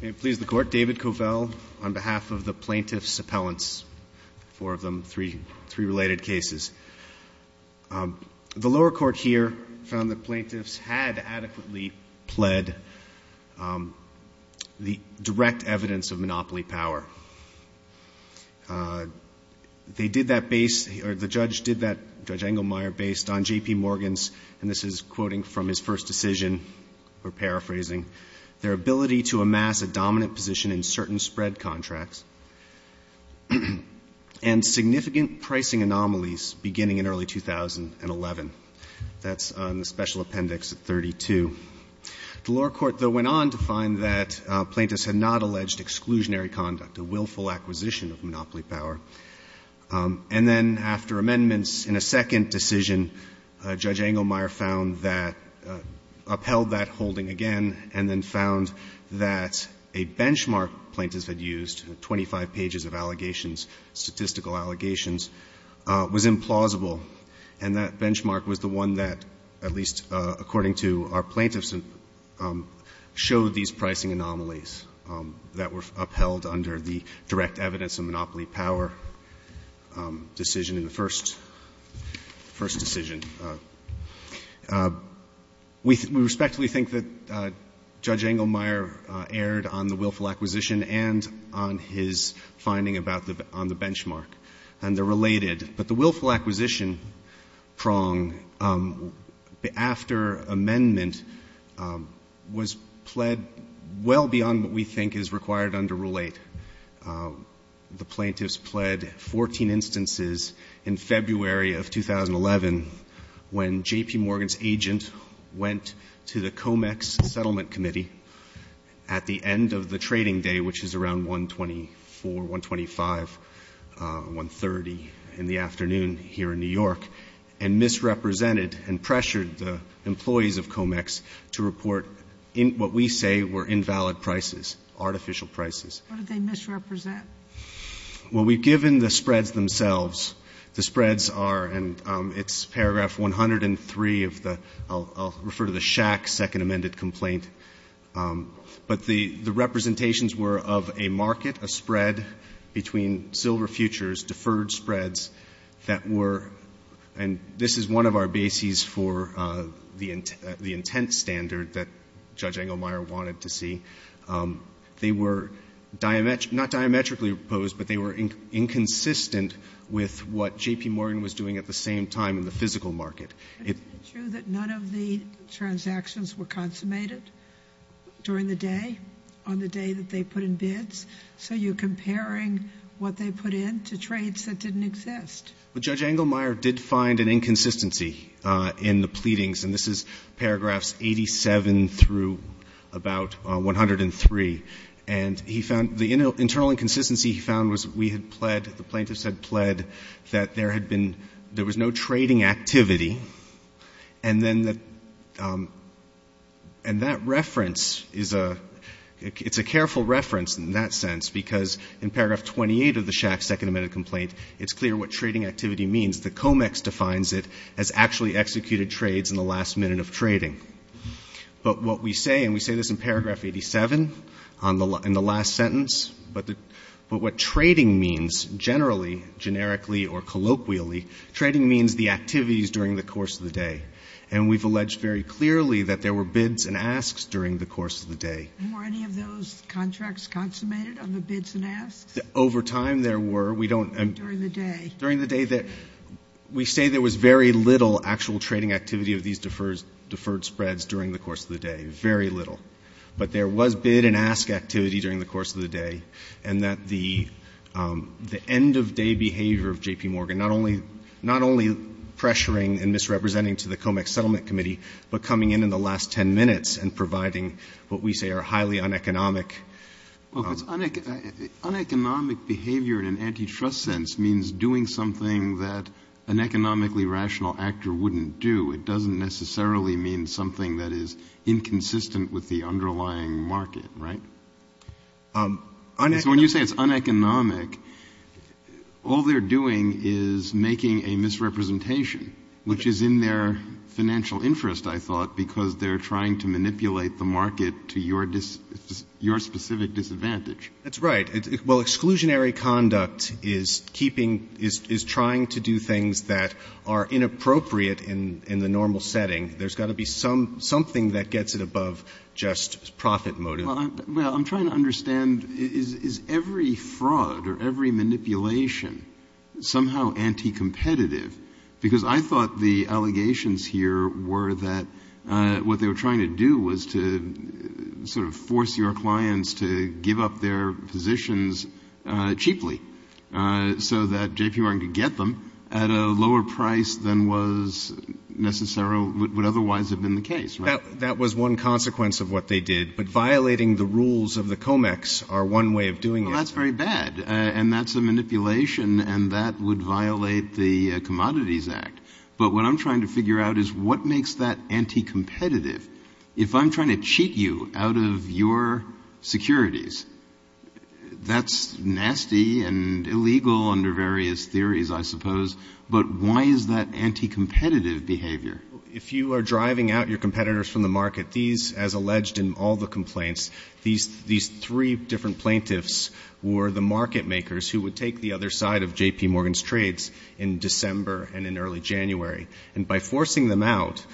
May it please the Court, David Covell on behalf of the Plaintiffs' Appellants, four of them, three related cases. The lower court here found that plaintiffs had adequately pled the direct evidence of monopoly power. They did that base, or the judge did that, Judge Engelmeyer, based on JP Morgan's, and this is quoting from his first decision, or paraphrasing, their ability to amass a dominant position in certain spread contracts and significant pricing anomalies beginning in early 2011. That's on the special appendix at 32. The lower court, though, went on to find that plaintiffs had not alleged exclusionary conduct, a willful acquisition of monopoly power. And then after amendments in a second decision, Judge Engelmeyer found that, upheld that holding again, and then found that a benchmark plaintiffs had used, 25 pages of allegations, statistical allegations, was implausible. And that benchmark was the one that, at least according to our plaintiffs, showed these pricing anomalies that were upheld under the direct evidence of monopoly power decision in the first decision. We respectfully think that Judge Engelmeyer erred on the willful acquisition and on his finding about the — on the benchmark, and they're related. But the willful acquisition prong after amendment was pled well beyond what we think is required under Rule 8. The plaintiffs pled 14 instances in February of 2011 when J.P. Morgan's agent went to the Comex Settlement Committee at the end of the trading day, which is around 124, 125, 130 in the afternoon here in New York, and misrepresented and pressured the employees of Comex to report what we say were invalid prices, artificial prices. Sotomayor What did they misrepresent? Well, we've given the spreads themselves. The spreads are, and it's paragraph 103 of the — I'll refer to the Shack second amended complaint, but the representations were of a market, a spread between silver futures, deferred spreads, that were — and this is one of our bases for the intent standard that Judge Engelmeyer wanted to see. They were not diametrically opposed, but they were inconsistent with what J.P. Morgan was doing at the same time in the physical market. Is it true that none of the transactions were consummated during the day, on the day that they put in bids, so you're comparing what they put in to trades that didn't exist? Well, Judge Engelmeyer did find an inconsistency in the pleadings, and this is paragraphs 87 through about 103, and he found — the internal inconsistency he found was we had pled, the plaintiffs had pled, that there had been — there was no trading activity, and then the — and that reference is a — it's a careful reference in that sense, because in paragraph 28 of the Shack second amended complaint, it's clear what trading activity means. The COMEX defines it as actually executed trades in the last minute of trading. But what we say, and we say this in paragraph 87 on the — in the last sentence, but the — but what trading means generally, generically or colloquially, trading means the activities during the course of the day. And we've alleged very clearly that there were bids and asks during the course of the day. Were any of those contracts consummated on the bids and asks? Over time, there were. We don't — During the day. During the day that — we say there was very little actual trading activity of these deferred spreads during the course of the day, very little. But there was bid and ask activity during the course of the day, and that the end-of-day behavior of J.P. Morgan, not only — not only pressuring and misrepresenting to the COMEX settlement committee, but coming in in the last 10 minutes and providing what we say are highly uneconomic — Uneconomic behavior in an antitrust sense means doing something that an economically rational actor wouldn't do. It doesn't necessarily mean something that is inconsistent with the underlying market, right? So when you say it's uneconomic, all they're doing is making a misrepresentation, which is in their financial interest, I thought, because they're trying to manipulate the market to your specific disadvantage. That's right. Well, exclusionary conduct is keeping — is trying to do things that are inappropriate in the normal setting. There's got to be something that gets it above just profit motive. Well, I'm trying to understand, is every fraud or every manipulation somehow anticompetitive? Because I thought the allegations here were that what they were trying to do was to sort of force your clients to give up their positions cheaply so that J.P. Morgan could get them at a lower price than was necessary — would otherwise have been the case, right? That was one consequence of what they did. But violating the rules of the COMEX are one way of doing it. Well, that's very bad, and that's a manipulation, and that would violate the Commodities Act. But what I'm trying to figure out is what makes that anticompetitive? If I'm trying to cheat you out of your securities, that's nasty and illegal under various theories, I suppose. But why is that anticompetitive behavior? If you are driving out your competitors from the market, these, as alleged in all the complaints, these three different plaintiffs were the market makers who would take the other side of J.P. Morgan's trades in December and in early January. And by forcing them out,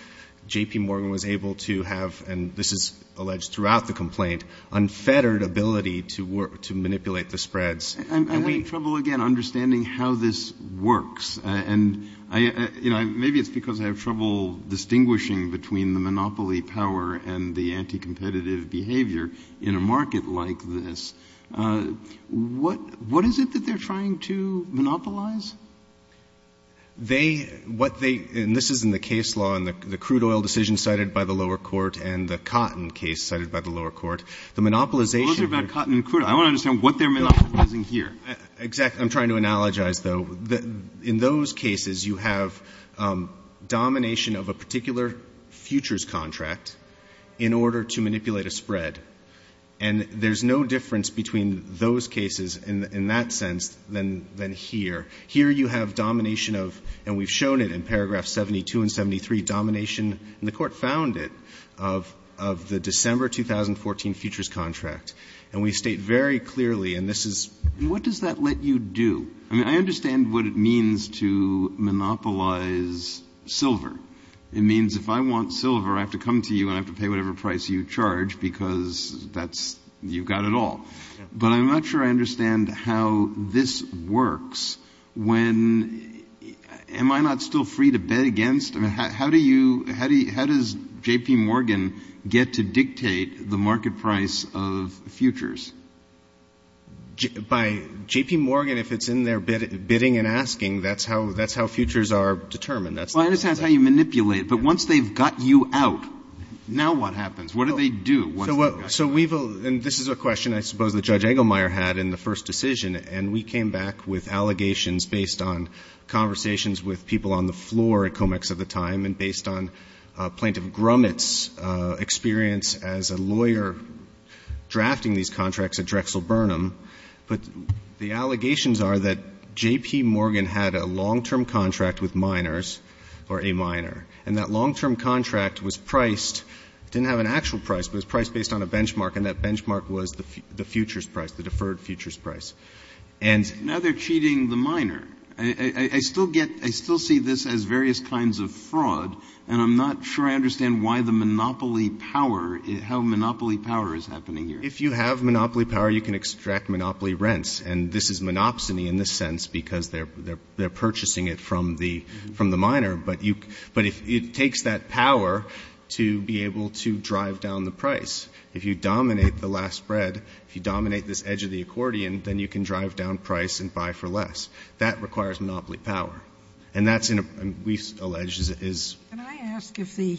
J.P. Morgan was able to have — and this is alleged throughout the complaint — unfettered ability to manipulate the spreads. I'm having trouble, again, understanding how this works. And, you know, maybe it's because I have trouble distinguishing between the monopoly power and the anticompetitive behavior in a market like this. What is it that they're trying to monopolize? They — what they — and this is in the case law, in the crude oil decision cited by the lower court and the cotton case cited by the lower court. The monopolization — Those are about cotton and crude oil. I want to understand what they're monopolizing here. Exactly. I'm trying to analogize, though. In those cases, you have domination of a particular futures contract in order to manipulate a spread. And there's no difference between those cases in that sense than here. Here you have domination of — and we've shown it in paragraph 72 and 73, domination — and the Court found it — of the December 2014 futures contract. And we state very clearly, and this is — What does that let you do? I mean, I understand what it means to monopolize silver. It means if I want silver, I have to come to you and I have to pay whatever price you charge because that's — you've got it all. But I'm not sure I understand how this works when — am I not still free to bet against? I mean, how do you — how does J.P. Morgan get to dictate the market price of futures? By — J.P. Morgan, if it's in their bidding and asking, that's how — that's how futures are determined. Well, I understand how you manipulate it, but once they've got you out, now what happens? What do they do once they've got you out? So we've — and this is a question I suppose that Judge Engelmeyer had in the first decision, and we came back with allegations based on conversations with people on the floor at COMEX at the time and based on Plaintiff Grumet's experience as a lawyer drafting these contracts at Drexel Burnham. But the allegations are that J.P. Morgan had a long-term contract with miners or a miner, and that long-term contract was priced — it didn't have an actual price, but it was priced based on a benchmark, and that benchmark was the futures price, the deferred futures price. And — Now they're cheating the miner. I still get — I still see this as various kinds of fraud, and I'm not sure I understand why the monopoly power — how monopoly power is happening here. If you have monopoly power, you can extract monopoly rents. And this is monopsony in this sense because they're — they're purchasing it from the — from the miner. But you — but it takes that power to be able to drive down the price. If you dominate the last spread, if you dominate this edge of the accordion, then you can drive down price and buy for less. That requires monopoly power. And that's in a — we've alleged is — Can I ask if the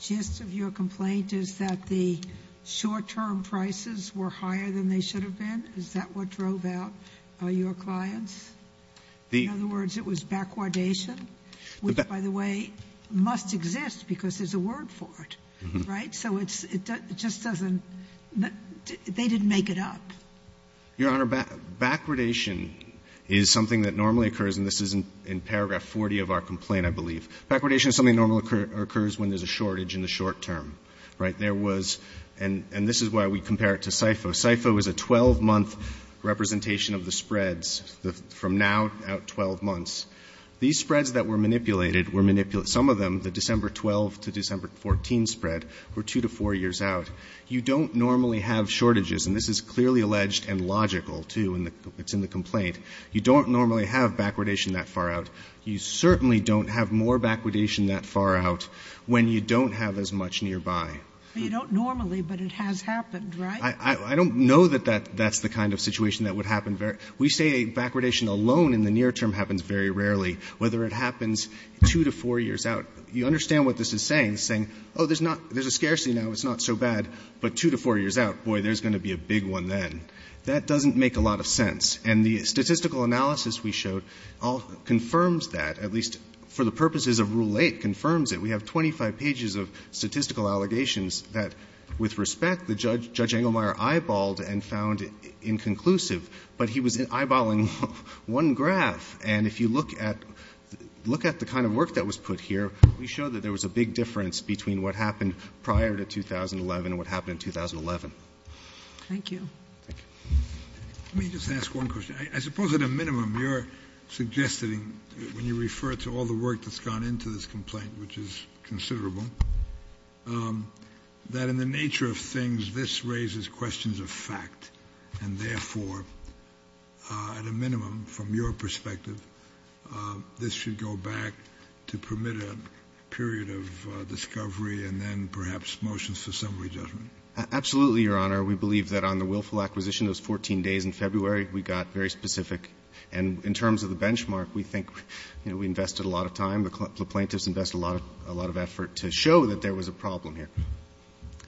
gist of your complaint is that the short-term prices were higher than they should have been? Is that what drove out your clients? The — In other words, it was backwardation, which, by the way, must exist because there's a word for it. Right? So it's — it just doesn't — they didn't make it up. Your Honor, backwardation is something that normally occurs, and this is in paragraph 40 of our complaint, I believe. Backwardation is something that normally occurs when there's a shortage in the short-term. Right? There was — and this is why we compare it to SIFO. SIFO is a 12-month representation of the spreads, the — from now out 12 months. These spreads that were manipulated were manipulated — some of them, the December 12 to December 14 spread, were two to four years out. You don't normally have shortages, and this is clearly alleged and logical, too, in the — it's in the complaint. You don't normally have backwardation that far out. You certainly don't have more backwardation that far out when you don't have as much nearby. But you don't normally, but it has happened, right? I don't know that that's the kind of situation that would happen very — we say backwardation alone in the near term happens very rarely, whether it happens two to four years out. You understand what this is saying, saying, oh, there's not — there's a scarcity now, it's not so bad, but two to four years out, boy, there's going to be a big one then. That doesn't make a lot of sense. And the statistical analysis we showed confirms that, at least for the purposes of Rule 8, confirms it. We have 25 pages of statistical allegations that, with respect, Judge Engelmeyer eyeballed and found inconclusive. But he was eyeballing one graph. And if you look at the kind of work that was put here, we show that there was a big difference between what happened prior to 2011 and what happened in 2011. Thank you. Thank you. Let me just ask one question. I suppose at a minimum you're suggesting, when you refer to all the work that's gone into this complaint, which is considerable, that in the nature of things, this raises questions of fact, and therefore, at a minimum, from your perspective, this should go back to permit a period of discovery and then perhaps motions for summary judgment. Absolutely, Your Honor. We believe that on the willful acquisition, those 14 days in February, we got very specific. And in terms of the benchmark, we think we invested a lot of time. The plaintiffs invested a lot of effort to show that there was a problem here.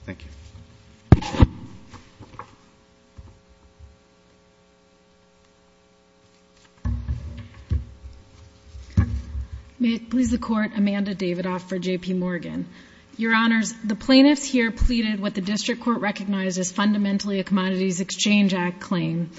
Thank you. May it please the Court, Amanda Davidoff for J.P. Morgan. Your Honors, the plaintiffs here pleaded what the district court recognized as fundamentally a Commodities Exchange Act claim.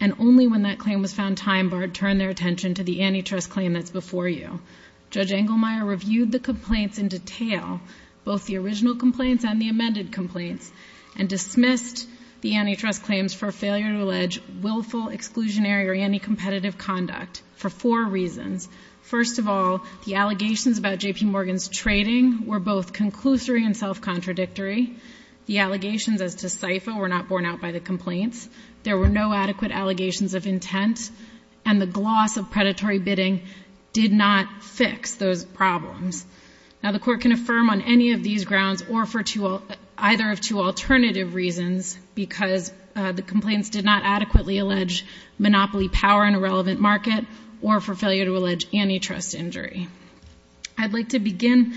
And only when that claim was found time-barred turned their attention to the antitrust claim that's before you. Judge Engelmeyer reviewed the complaints in detail, both the original complaints and the amended complaints, and dismissed the antitrust claims for failure to allege willful, exclusionary, or anti-competitive conduct for four reasons. First of all, the allegations about J.P. Morgan's trading were both conclusory and self-contradictory. The allegations as to SIFO were not borne out by the complaints. There were no adequate allegations of intent. And the gloss of predatory bidding did not fix those problems. Now, the Court can affirm on any of these grounds or for either of two alternative reasons, because the complaints did not adequately allege monopoly power in a huge antitrust injury. I'd like to begin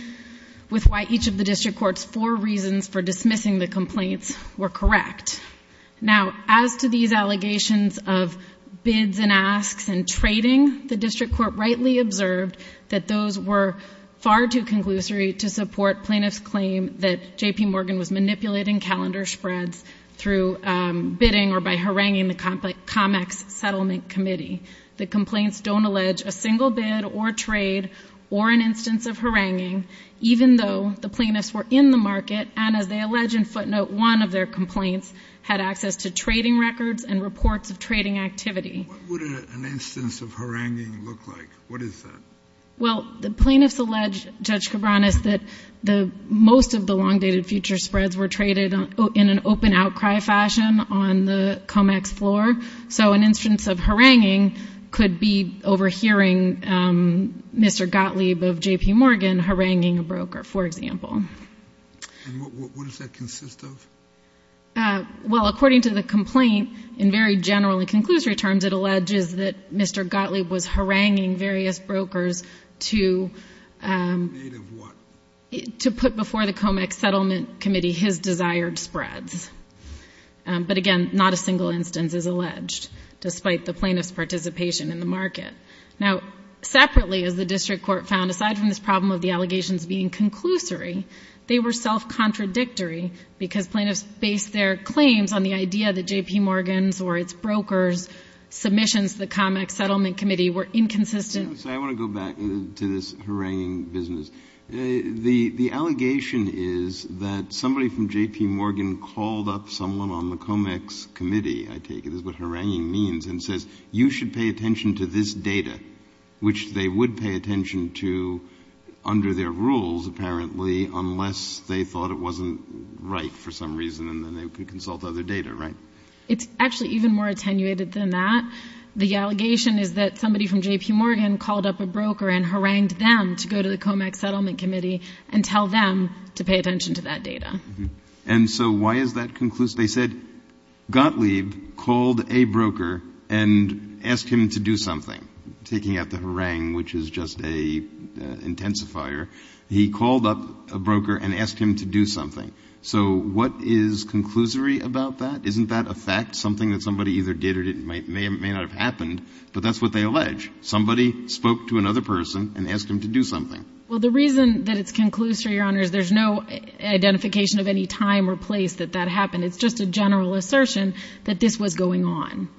with why each of the district court's four reasons for dismissing the complaints were correct. Now, as to these allegations of bids and asks and trading, the district court rightly observed that those were far too conclusory to support plaintiffs' claim that J.P. Morgan was manipulating calendar spreads through bidding or by haranguing the ComEx settlement committee. The complaints don't allege a single bid or trade or an instance of haranguing, even though the plaintiffs were in the market and, as they allege in footnote one of their complaints, had access to trading records and reports of trading activity. What would an instance of haranguing look like? What is that? Well, the plaintiffs allege, Judge Cabranes, that most of the long-dated future spreads were traded in an open outcry fashion on the ComEx floor. So an instance of haranguing could be overhearing Mr. Gottlieb of J.P. Morgan haranguing a broker, for example. And what does that consist of? Well, according to the complaint, in very general and conclusory terms, it alleges that Mr. Gottlieb was haranguing various brokers to put before the ComEx settlement committee his desired spreads. But again, not a single instance is alleged, despite the plaintiff's participation in the market. Now, separately, as the district court found, aside from this problem of the allegations being conclusory, they were self-contradictory because plaintiffs based their claims on the idea that J.P. Morgan's or its brokers' submissions to the ComEx settlement committee were inconsistent. So I want to go back to this haranguing business. The allegation is that somebody from J.P. Morgan called up someone on the ComEx committee, I take it is what haranguing means, and says, you should pay attention to this data, which they would pay attention to under their rules, apparently, unless they thought it wasn't right for some reason, and then they could consult other data, right? It's actually even more attenuated than that. The allegation is that somebody from J.P. and tell them to pay attention to that data. And so why is that conclusive? They said Gottlieb called a broker and asked him to do something, taking out the harangue, which is just an intensifier. He called up a broker and asked him to do something. So what is conclusory about that? Isn't that a fact, something that somebody either did or may not have happened, but that's what they allege. Somebody spoke to another person and asked him to do something. Well, the reason that it's conclusory, Your Honor, is there's no identification of any time or place that that happened. It's just a general assertion that this was going on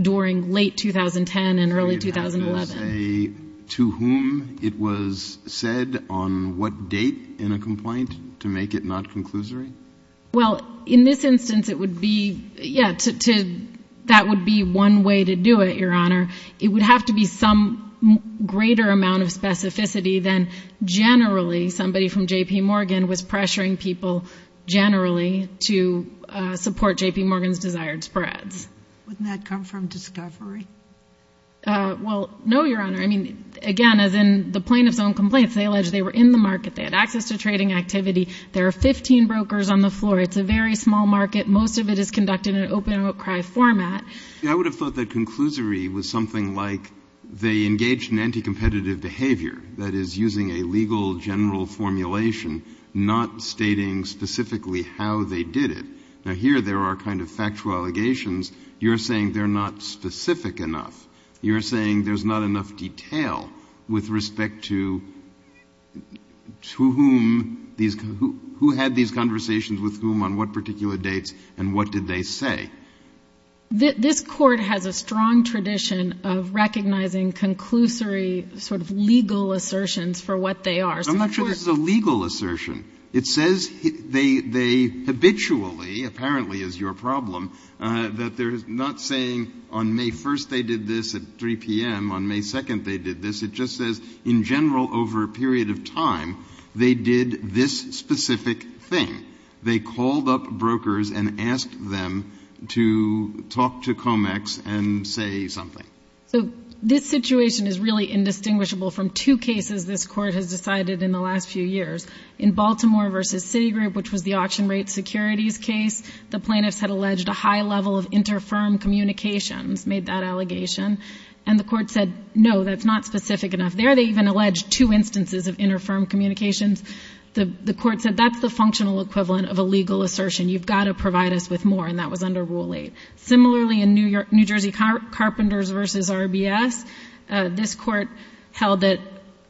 during late 2010 and early 2011. Can you say to whom it was said, on what date in a complaint, to make it not conclusory? Well, in this instance, it would be, yeah, that would be one way to do it, Your Honor. It would have to be some greater amount of specificity than generally somebody from J.P. Morgan was pressuring people generally to support J.P. Morgan's desired spreads. Wouldn't that come from discovery? Well, no, Your Honor. I mean, again, as in the plaintiff's own complaints, they allege they were in the market, they had access to trading activity. There are 15 brokers on the floor. It's a very small market. Most of it is conducted in an open-outcry format. I would have thought that conclusory was something like they engaged in anti-competitive behavior, that is, using a legal general formulation, not stating specifically how they did it. Now, here there are kind of factual allegations. You're saying they're not specific enough. You're saying there's not enough detail with respect to whom these — who had these conversations with whom on what particular dates and what did they say. This Court has a strong tradition of recognizing conclusory sort of legal assertions for what they are. I'm not sure this is a legal assertion. It says they habitually, apparently is your problem, that they're not saying on May 1st they did this, at 3 p.m. on May 2nd they did this. It just says in general over a period of time they did this specific thing. They called up brokers and asked them to talk to COMEX and say something. So this situation is really indistinguishable from two cases this Court has decided in the last few years. In Baltimore v. Citigroup, which was the auction rate securities case, the plaintiffs had alleged a high level of inter-firm communications, made that allegation. And the Court said, no, that's not specific enough. There they even alleged two instances of inter-firm communications. The Court said, that's the functional equivalent of a legal assertion. You've got to provide us with more. And that was under Rule 8. Similarly, in New Jersey Carpenters v. RBS, this Court held that,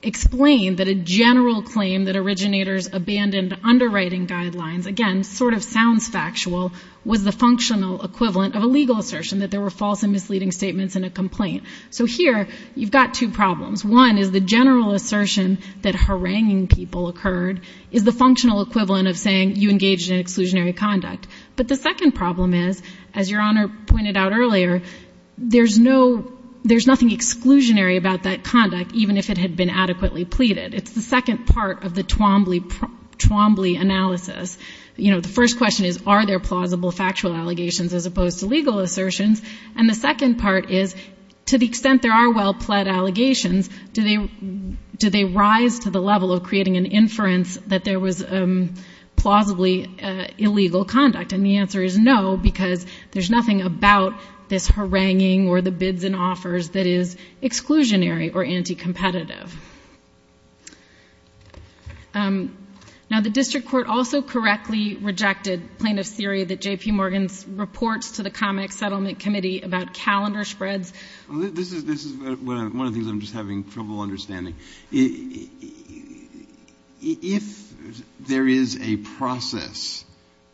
explained that a general claim that originators abandoned underwriting guidelines, again, sort of sounds factual, was the functional equivalent of a legal assertion, that there were false and misleading statements in a complaint. So here you've got two problems. One is the general assertion that haranguing people occurred is the functional equivalent of saying you engaged in exclusionary conduct. But the second problem is, as Your Honor pointed out earlier, there's nothing exclusionary about that conduct, even if it had been adequately pleaded. It's the second part of the Twombly analysis. You know, the first question is, are there plausible factual allegations as opposed to legal assertions? And the second part is, to the extent there are well-pled allegations, do they rise to the level of creating an inference that there was plausibly illegal conduct? And the answer is no, because there's nothing about this haranguing or the bids and offers that is exclusionary or anti-competitive. Now, the District Court also correctly rejected plaintiff's theory that J.P. Morgan's reports to the ComEx Settlement Committee about calendar spreads. This is one of the things I'm just having trouble understanding. If there is a process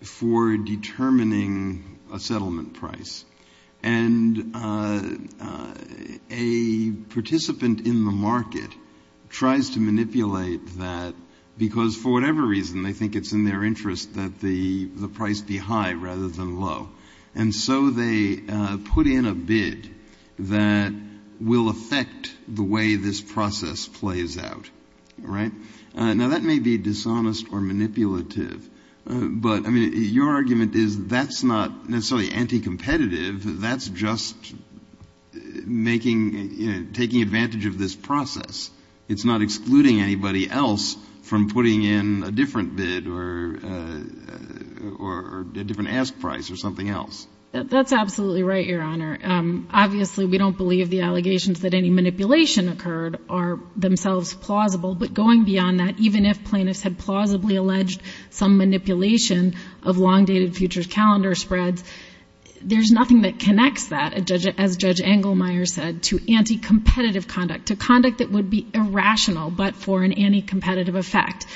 for determining a settlement price and a participant in the market tries to manipulate that because for whatever reason they think it's in their interest that the price be high rather than low, and so they put in a bid that will affect the way this process plays out, right? Now, that may be dishonest or manipulative, but, I mean, your argument is that's not necessarily anti-competitive. That's just making, you know, taking advantage of this process. It's not excluding anybody else from putting in a different bid or a different ask price or something else. That's absolutely right, Your Honor. Obviously, we don't believe the allegations that any manipulation occurred are themselves plausible. But going beyond that, even if plaintiffs had plausibly alleged some manipulation of long-dated futures calendar spreads, there's nothing that connects that, as Judge Engelmeyer said, to anti-competitive conduct, to conduct that would be irrational but for an anti-competitive effect.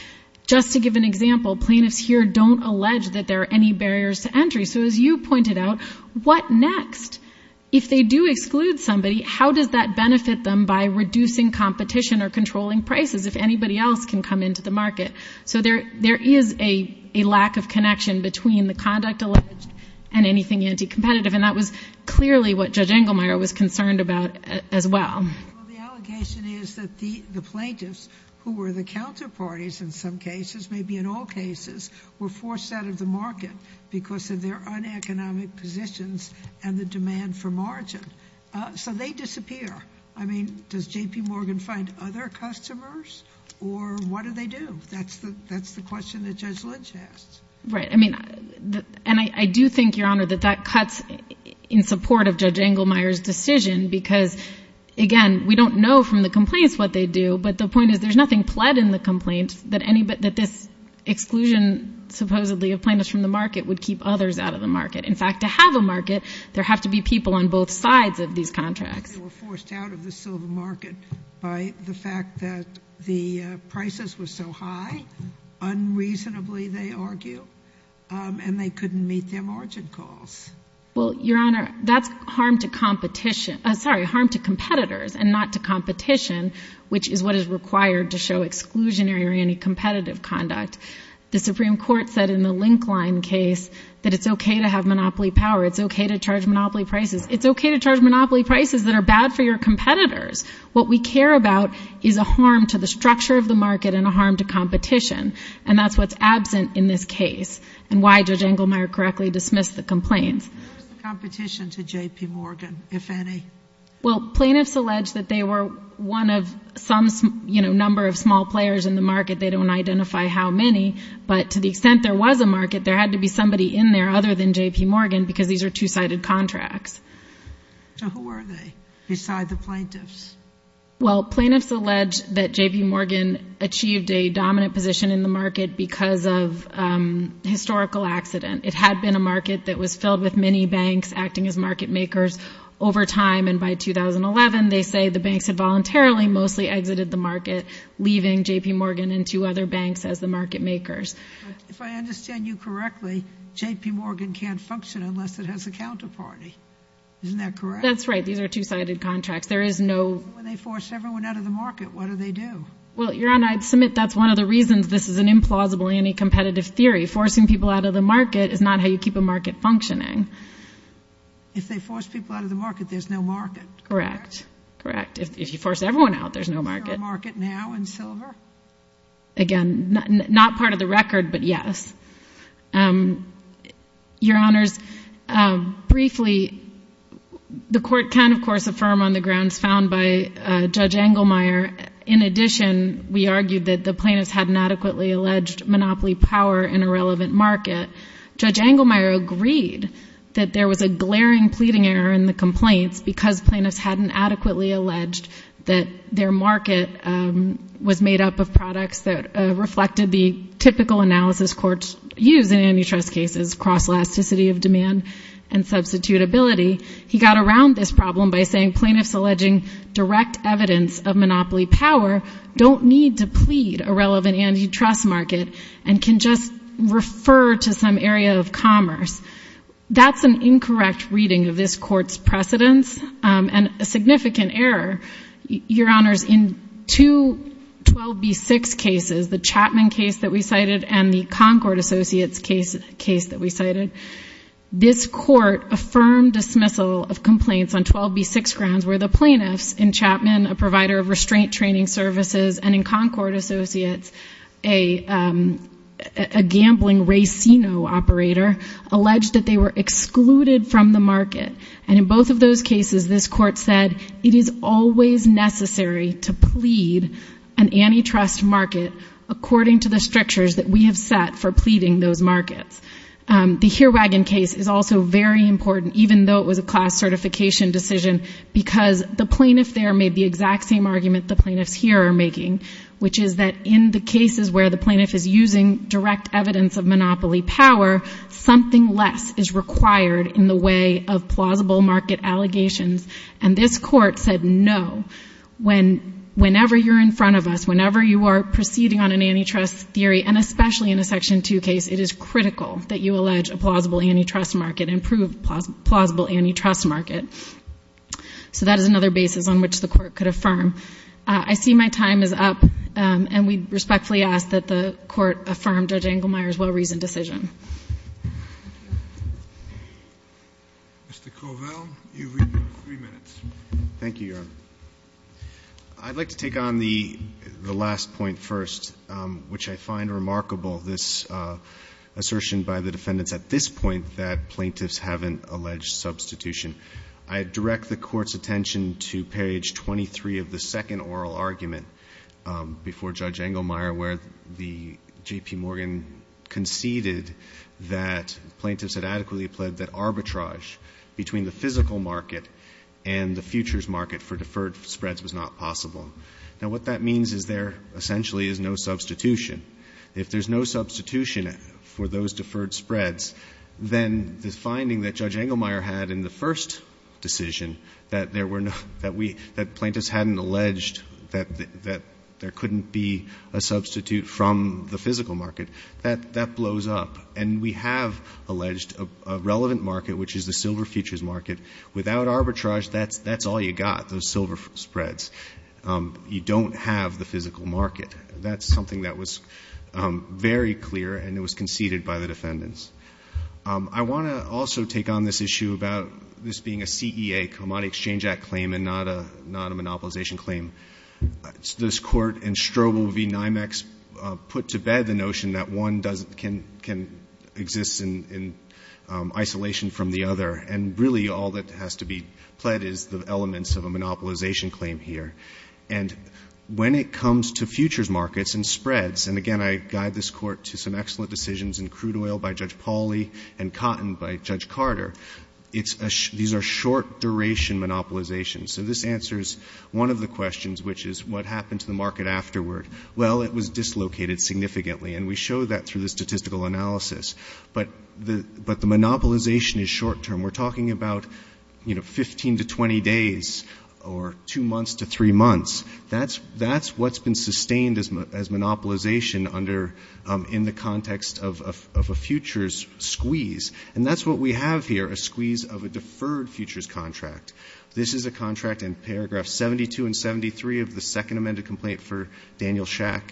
Just to give an example, plaintiffs here don't allege that there are any barriers to entry. So as you pointed out, what next? If they do exclude somebody, how does that benefit them by reducing competition or controlling prices if anybody else can come into the market? So there is a lack of connection between the conduct alleged and anything anti-competitive, and that was clearly what Judge Engelmeyer was concerned about as well. Well, the allegation is that the plaintiffs, who were the counterparties in some cases, maybe in all cases, were forced out of the market because of their uneconomic positions and the demand for margin. So they disappear. I mean, does J.P. Morgan find other customers, or what do they do? That's the question that Judge Lynch asked. Right. I mean, and I do think, Your Honor, that that cuts in support of Judge Engelmeyer's decision because, again, we don't know from the complaints what they do, but the point is there's nothing pled in the complaint that this exclusion, supposedly, of plaintiffs from the market would keep others out of the market. In fact, to have a market, there have to be people on both sides of these contracts. They were forced out of the silver market by the fact that the prices were so high, unreasonably, they argue, and they couldn't meet their margin calls. Well, Your Honor, that's harm to competition. Sorry, harm to competitors and not to competition, which is what is required to show exclusionary or any competitive conduct. The Supreme Court said in the Linkline case that it's okay to have monopoly power. It's okay to charge monopoly prices. It's okay to charge monopoly prices that are bad for your competitors. What we care about is a harm to the structure of the market and a harm to competition, and that's what's absent in this case and why Judge Engelmeyer correctly dismissed the complaints. What was the competition to J.P. Morgan, if any? Well, plaintiffs allege that they were one of some number of small players in the market. They don't identify how many, but to the extent there was a market, there had to be somebody in there other than J.P. Morgan because these are two-sided contracts. So who were they beside the plaintiffs? Well, plaintiffs allege that J.P. Morgan achieved a dominant position in the market because of a historical accident. It had been a market that was filled with many banks acting as market makers over time, and by 2011 they say the banks had voluntarily mostly exited the market, leaving J.P. Morgan and two other banks as the market makers. If I understand you correctly, J.P. Morgan can't function unless it has a counterparty. Isn't that correct? That's right. These are two-sided contracts. There is no— When they force everyone out of the market, what do they do? Well, Your Honor, I'd submit that's one of the reasons this is an implausible anti-competitive theory. Forcing people out of the market is not how you keep a market functioning. If they force people out of the market, there's no market. Correct. Correct. If you force everyone out, there's no market. Is there a market now in silver? Again, not part of the record, but yes. Your Honors, briefly, the Court can, of course, affirm on the grounds found by Judge Engelmeyer, in addition, we argued that the plaintiffs hadn't adequately alleged monopoly power in a relevant market. Judge Engelmeyer agreed that there was a glaring pleading error in the complaints because plaintiffs hadn't adequately alleged that their market was made up of products that reflected the typical analysis courts use in antitrust cases, cross-elasticity of demand and substitutability. He got around this problem by saying plaintiffs alleging direct evidence of monopoly power don't need to plead a relevant antitrust market and can just refer to some area of commerce. That's an incorrect reading of this Court's precedence and a significant error. Your Honors, in two 12B6 cases, the Chapman case that we cited and the Concord Associates case that we cited, this Court affirmed dismissal of complaints on 12B6 grounds where the plaintiffs in Chapman, a provider of restraint training services, and in Concord Associates, a gambling racino operator, alleged that they were excluded from the market. And in both of those cases, this Court said it is always necessary to plead an antitrust market according to the strictures that we have set for pleading those markets. The Heerwagen case is also very important, even though it was a class certification decision, because the plaintiff there made the exact same argument the plaintiffs here are making, which is that in the cases where the plaintiff is using direct evidence of monopoly power, something less is required in the way of plausible market allegations. And this Court said no. Whenever you're in front of us, whenever you are proceeding on an antitrust theory, and especially in a Section 2 case, it is critical that you allege a plausible antitrust market and prove plausible antitrust market. So that is another basis on which the Court could affirm. I see my time is up, and we respectfully ask that the Court affirm Judge Engelmeyer's well-reasoned decision. Mr. Covell, you have three minutes. Thank you, Your Honor. I'd like to take on the last point first, which I find remarkable, this assertion by the defendants at this point that plaintiffs haven't alleged substitution. I direct the Court's attention to page 23 of the second oral argument before Judge Engelmeyer where the J.P. Morgan conceded that plaintiffs had adequately pled that arbitrage between the physical market and the futures market for deferred spreads was not possible. Now, what that means is there essentially is no substitution. If there's no substitution for those deferred spreads, then the finding that Judge Engelmeyer had in the first decision that there were no – that plaintiffs hadn't alleged that there couldn't be a substitute from the physical market, that that blows up. And we have alleged a relevant market, which is the silver futures market. Without arbitrage, that's all you got, those silver spreads. You don't have the physical market. That's something that was very clear, and it was conceded by the defendants. I want to also take on this issue about this being a CEA, Commodity Exchange Act claim, and not a monopolization claim. This Court in Strobel v. NYMEX put to bed the notion that one doesn't – can exist in isolation from the other, and really all that has to be pled is the elements of a monopolization claim here. And when it comes to futures markets and spreads – and again, I guide this Court to some excellent decisions in crude oil by Judge Pauly and cotton by Judge Carter – these are short-duration monopolizations. So this answers one of the questions, which is what happened to the market afterward. Well, it was dislocated significantly, and we show that through the statistical analysis. But the monopolization is short-term. We're talking about 15 to 20 days or two months to three months. That's what's been sustained as monopolization in the context of a futures squeeze. And that's what we have here, a squeeze of a deferred futures contract. This is a contract in paragraph 72 and 73 of the second amended complaint for Daniel Schack.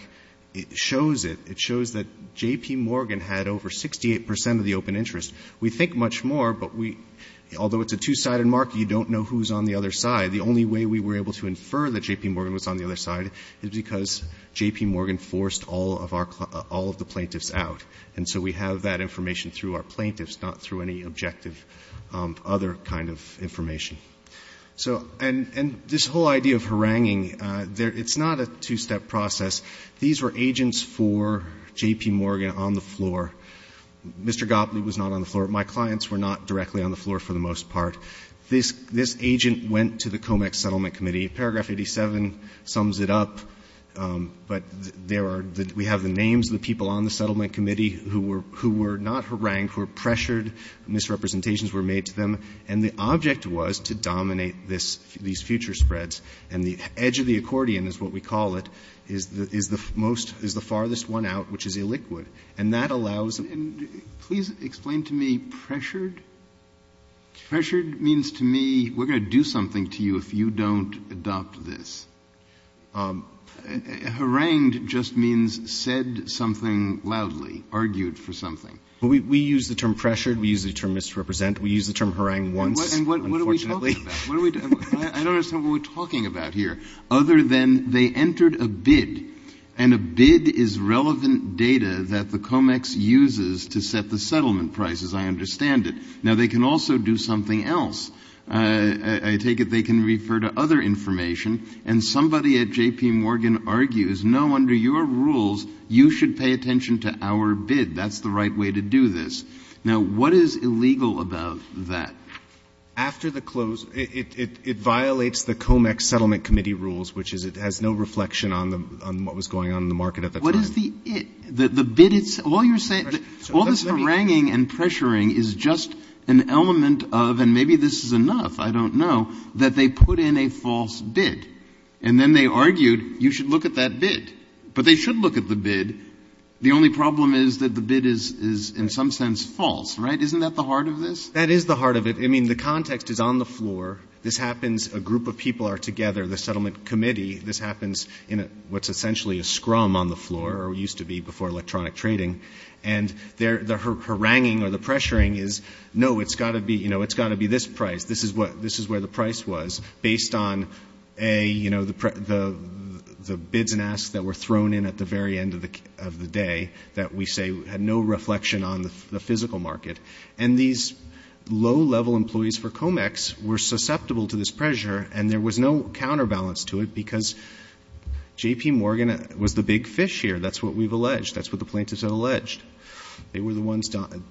It shows it. It shows that J.P. Morgan had over 68 percent of the open interest. We think much more, but we – although it's a two-sided market, you don't know who's on the other side. The only way we were able to infer that J.P. Morgan was on the other side is because J.P. Morgan forced all of our – all of the plaintiffs out. And so we have that information through our plaintiffs, not through any objective other kind of information. So – and this whole idea of haranguing, it's not a two-step process. These were agents for J.P. Morgan on the floor. Mr. Gopley was not on the floor. My clients were not directly on the floor for the most part. This agent went to the COMEX Settlement Committee. Paragraph 87 sums it up. But there are – we have the names of the people on the settlement committee who were not harangued, who were pressured, misrepresentations were made to them. And the object was to dominate this – these future spreads. And the edge of the accordion is what we call it, is the most – is the farthest one out, which is illiquid. And that allows – And please explain to me pressured? Pressured means to me we're going to do something to you if you don't adopt this. Harangued just means said something loudly, argued for something. We use the term pressured. We use the term misrepresent. We use the term harangued once, unfortunately. And what are we talking about? I don't understand what we're talking about here. Other than they entered a bid, and a bid is relevant data that the COMEX uses to set the settlement prices. I understand it. Now, they can also do something else. I take it they can refer to other information. And somebody at J.P. Morgan argues, no, under your rules, you should pay attention to our bid. That's the right way to do this. Now, what is illegal about that? After the close – it violates the COMEX Settlement Committee rules, which is it has no reflection on the – on what was going on in the market at the time. What is the – the bid itself? All you're saying – all this haranguing and pressuring is just an element of – and maybe this is enough, I don't know – that they put in a false bid. And then they argued you should look at that bid. But they should look at the bid. The only problem is that the bid is in some sense false, right? Isn't that the heart of this? That is the heart of it. I mean, the context is on the floor. This happens – a group of people are together, the settlement committee. This happens in what's essentially a scrum on the floor, or used to be before electronic trading. And their haranguing or the pressuring is, no, it's got to be – you know, it's got to be this price. This is what – this is where the price was based on, A, you know, the bids and asks that were thrown in at the very end of the day that we say had no reflection on the physical market. And these low-level employees for COMEX were susceptible to this pressure, and there was no counterbalance to it because J.P. Morgan was the big fish here. That's what we've alleged. That's what the plaintiffs had alleged. They were the ones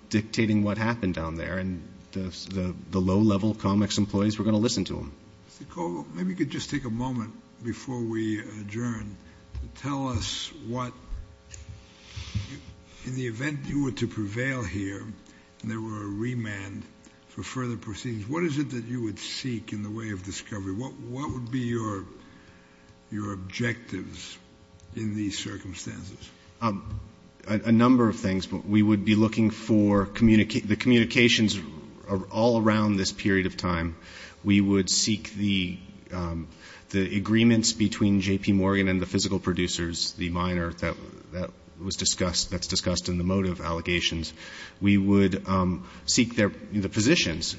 dictating what happened down there, and the low-level COMEX employees were going to listen to them. Mr. Koval, maybe you could just take a moment before we adjourn to tell us what – in the event you were to prevail here and there were a remand for further proceedings, what is it that you would seek in the way of discovery? What would be your objectives in these circumstances? A number of things. We would be looking for – the communications all around this period of time, we would seek the agreements between J.P. Morgan and the physical producers, the minor that was discussed – that's discussed in the motive allegations. We would seek their – the positions.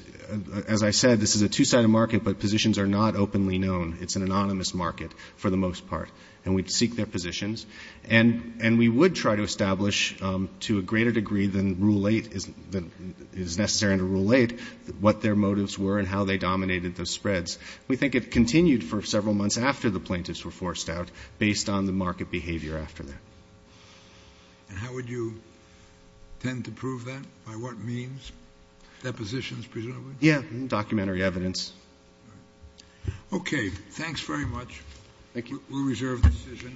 As I said, this is a two-sided market, but positions are not openly known. It's an anonymous market for the most part, and we'd seek their positions. And we would try to establish, to a greater degree than Rule 8 is necessary under We think it continued for several months after the plaintiffs were forced out, based on the market behavior after that. And how would you tend to prove that? By what means? Depositions, presumably? Yeah, documentary evidence. Okay, thanks very much. Thank you. We'll reserve the decision.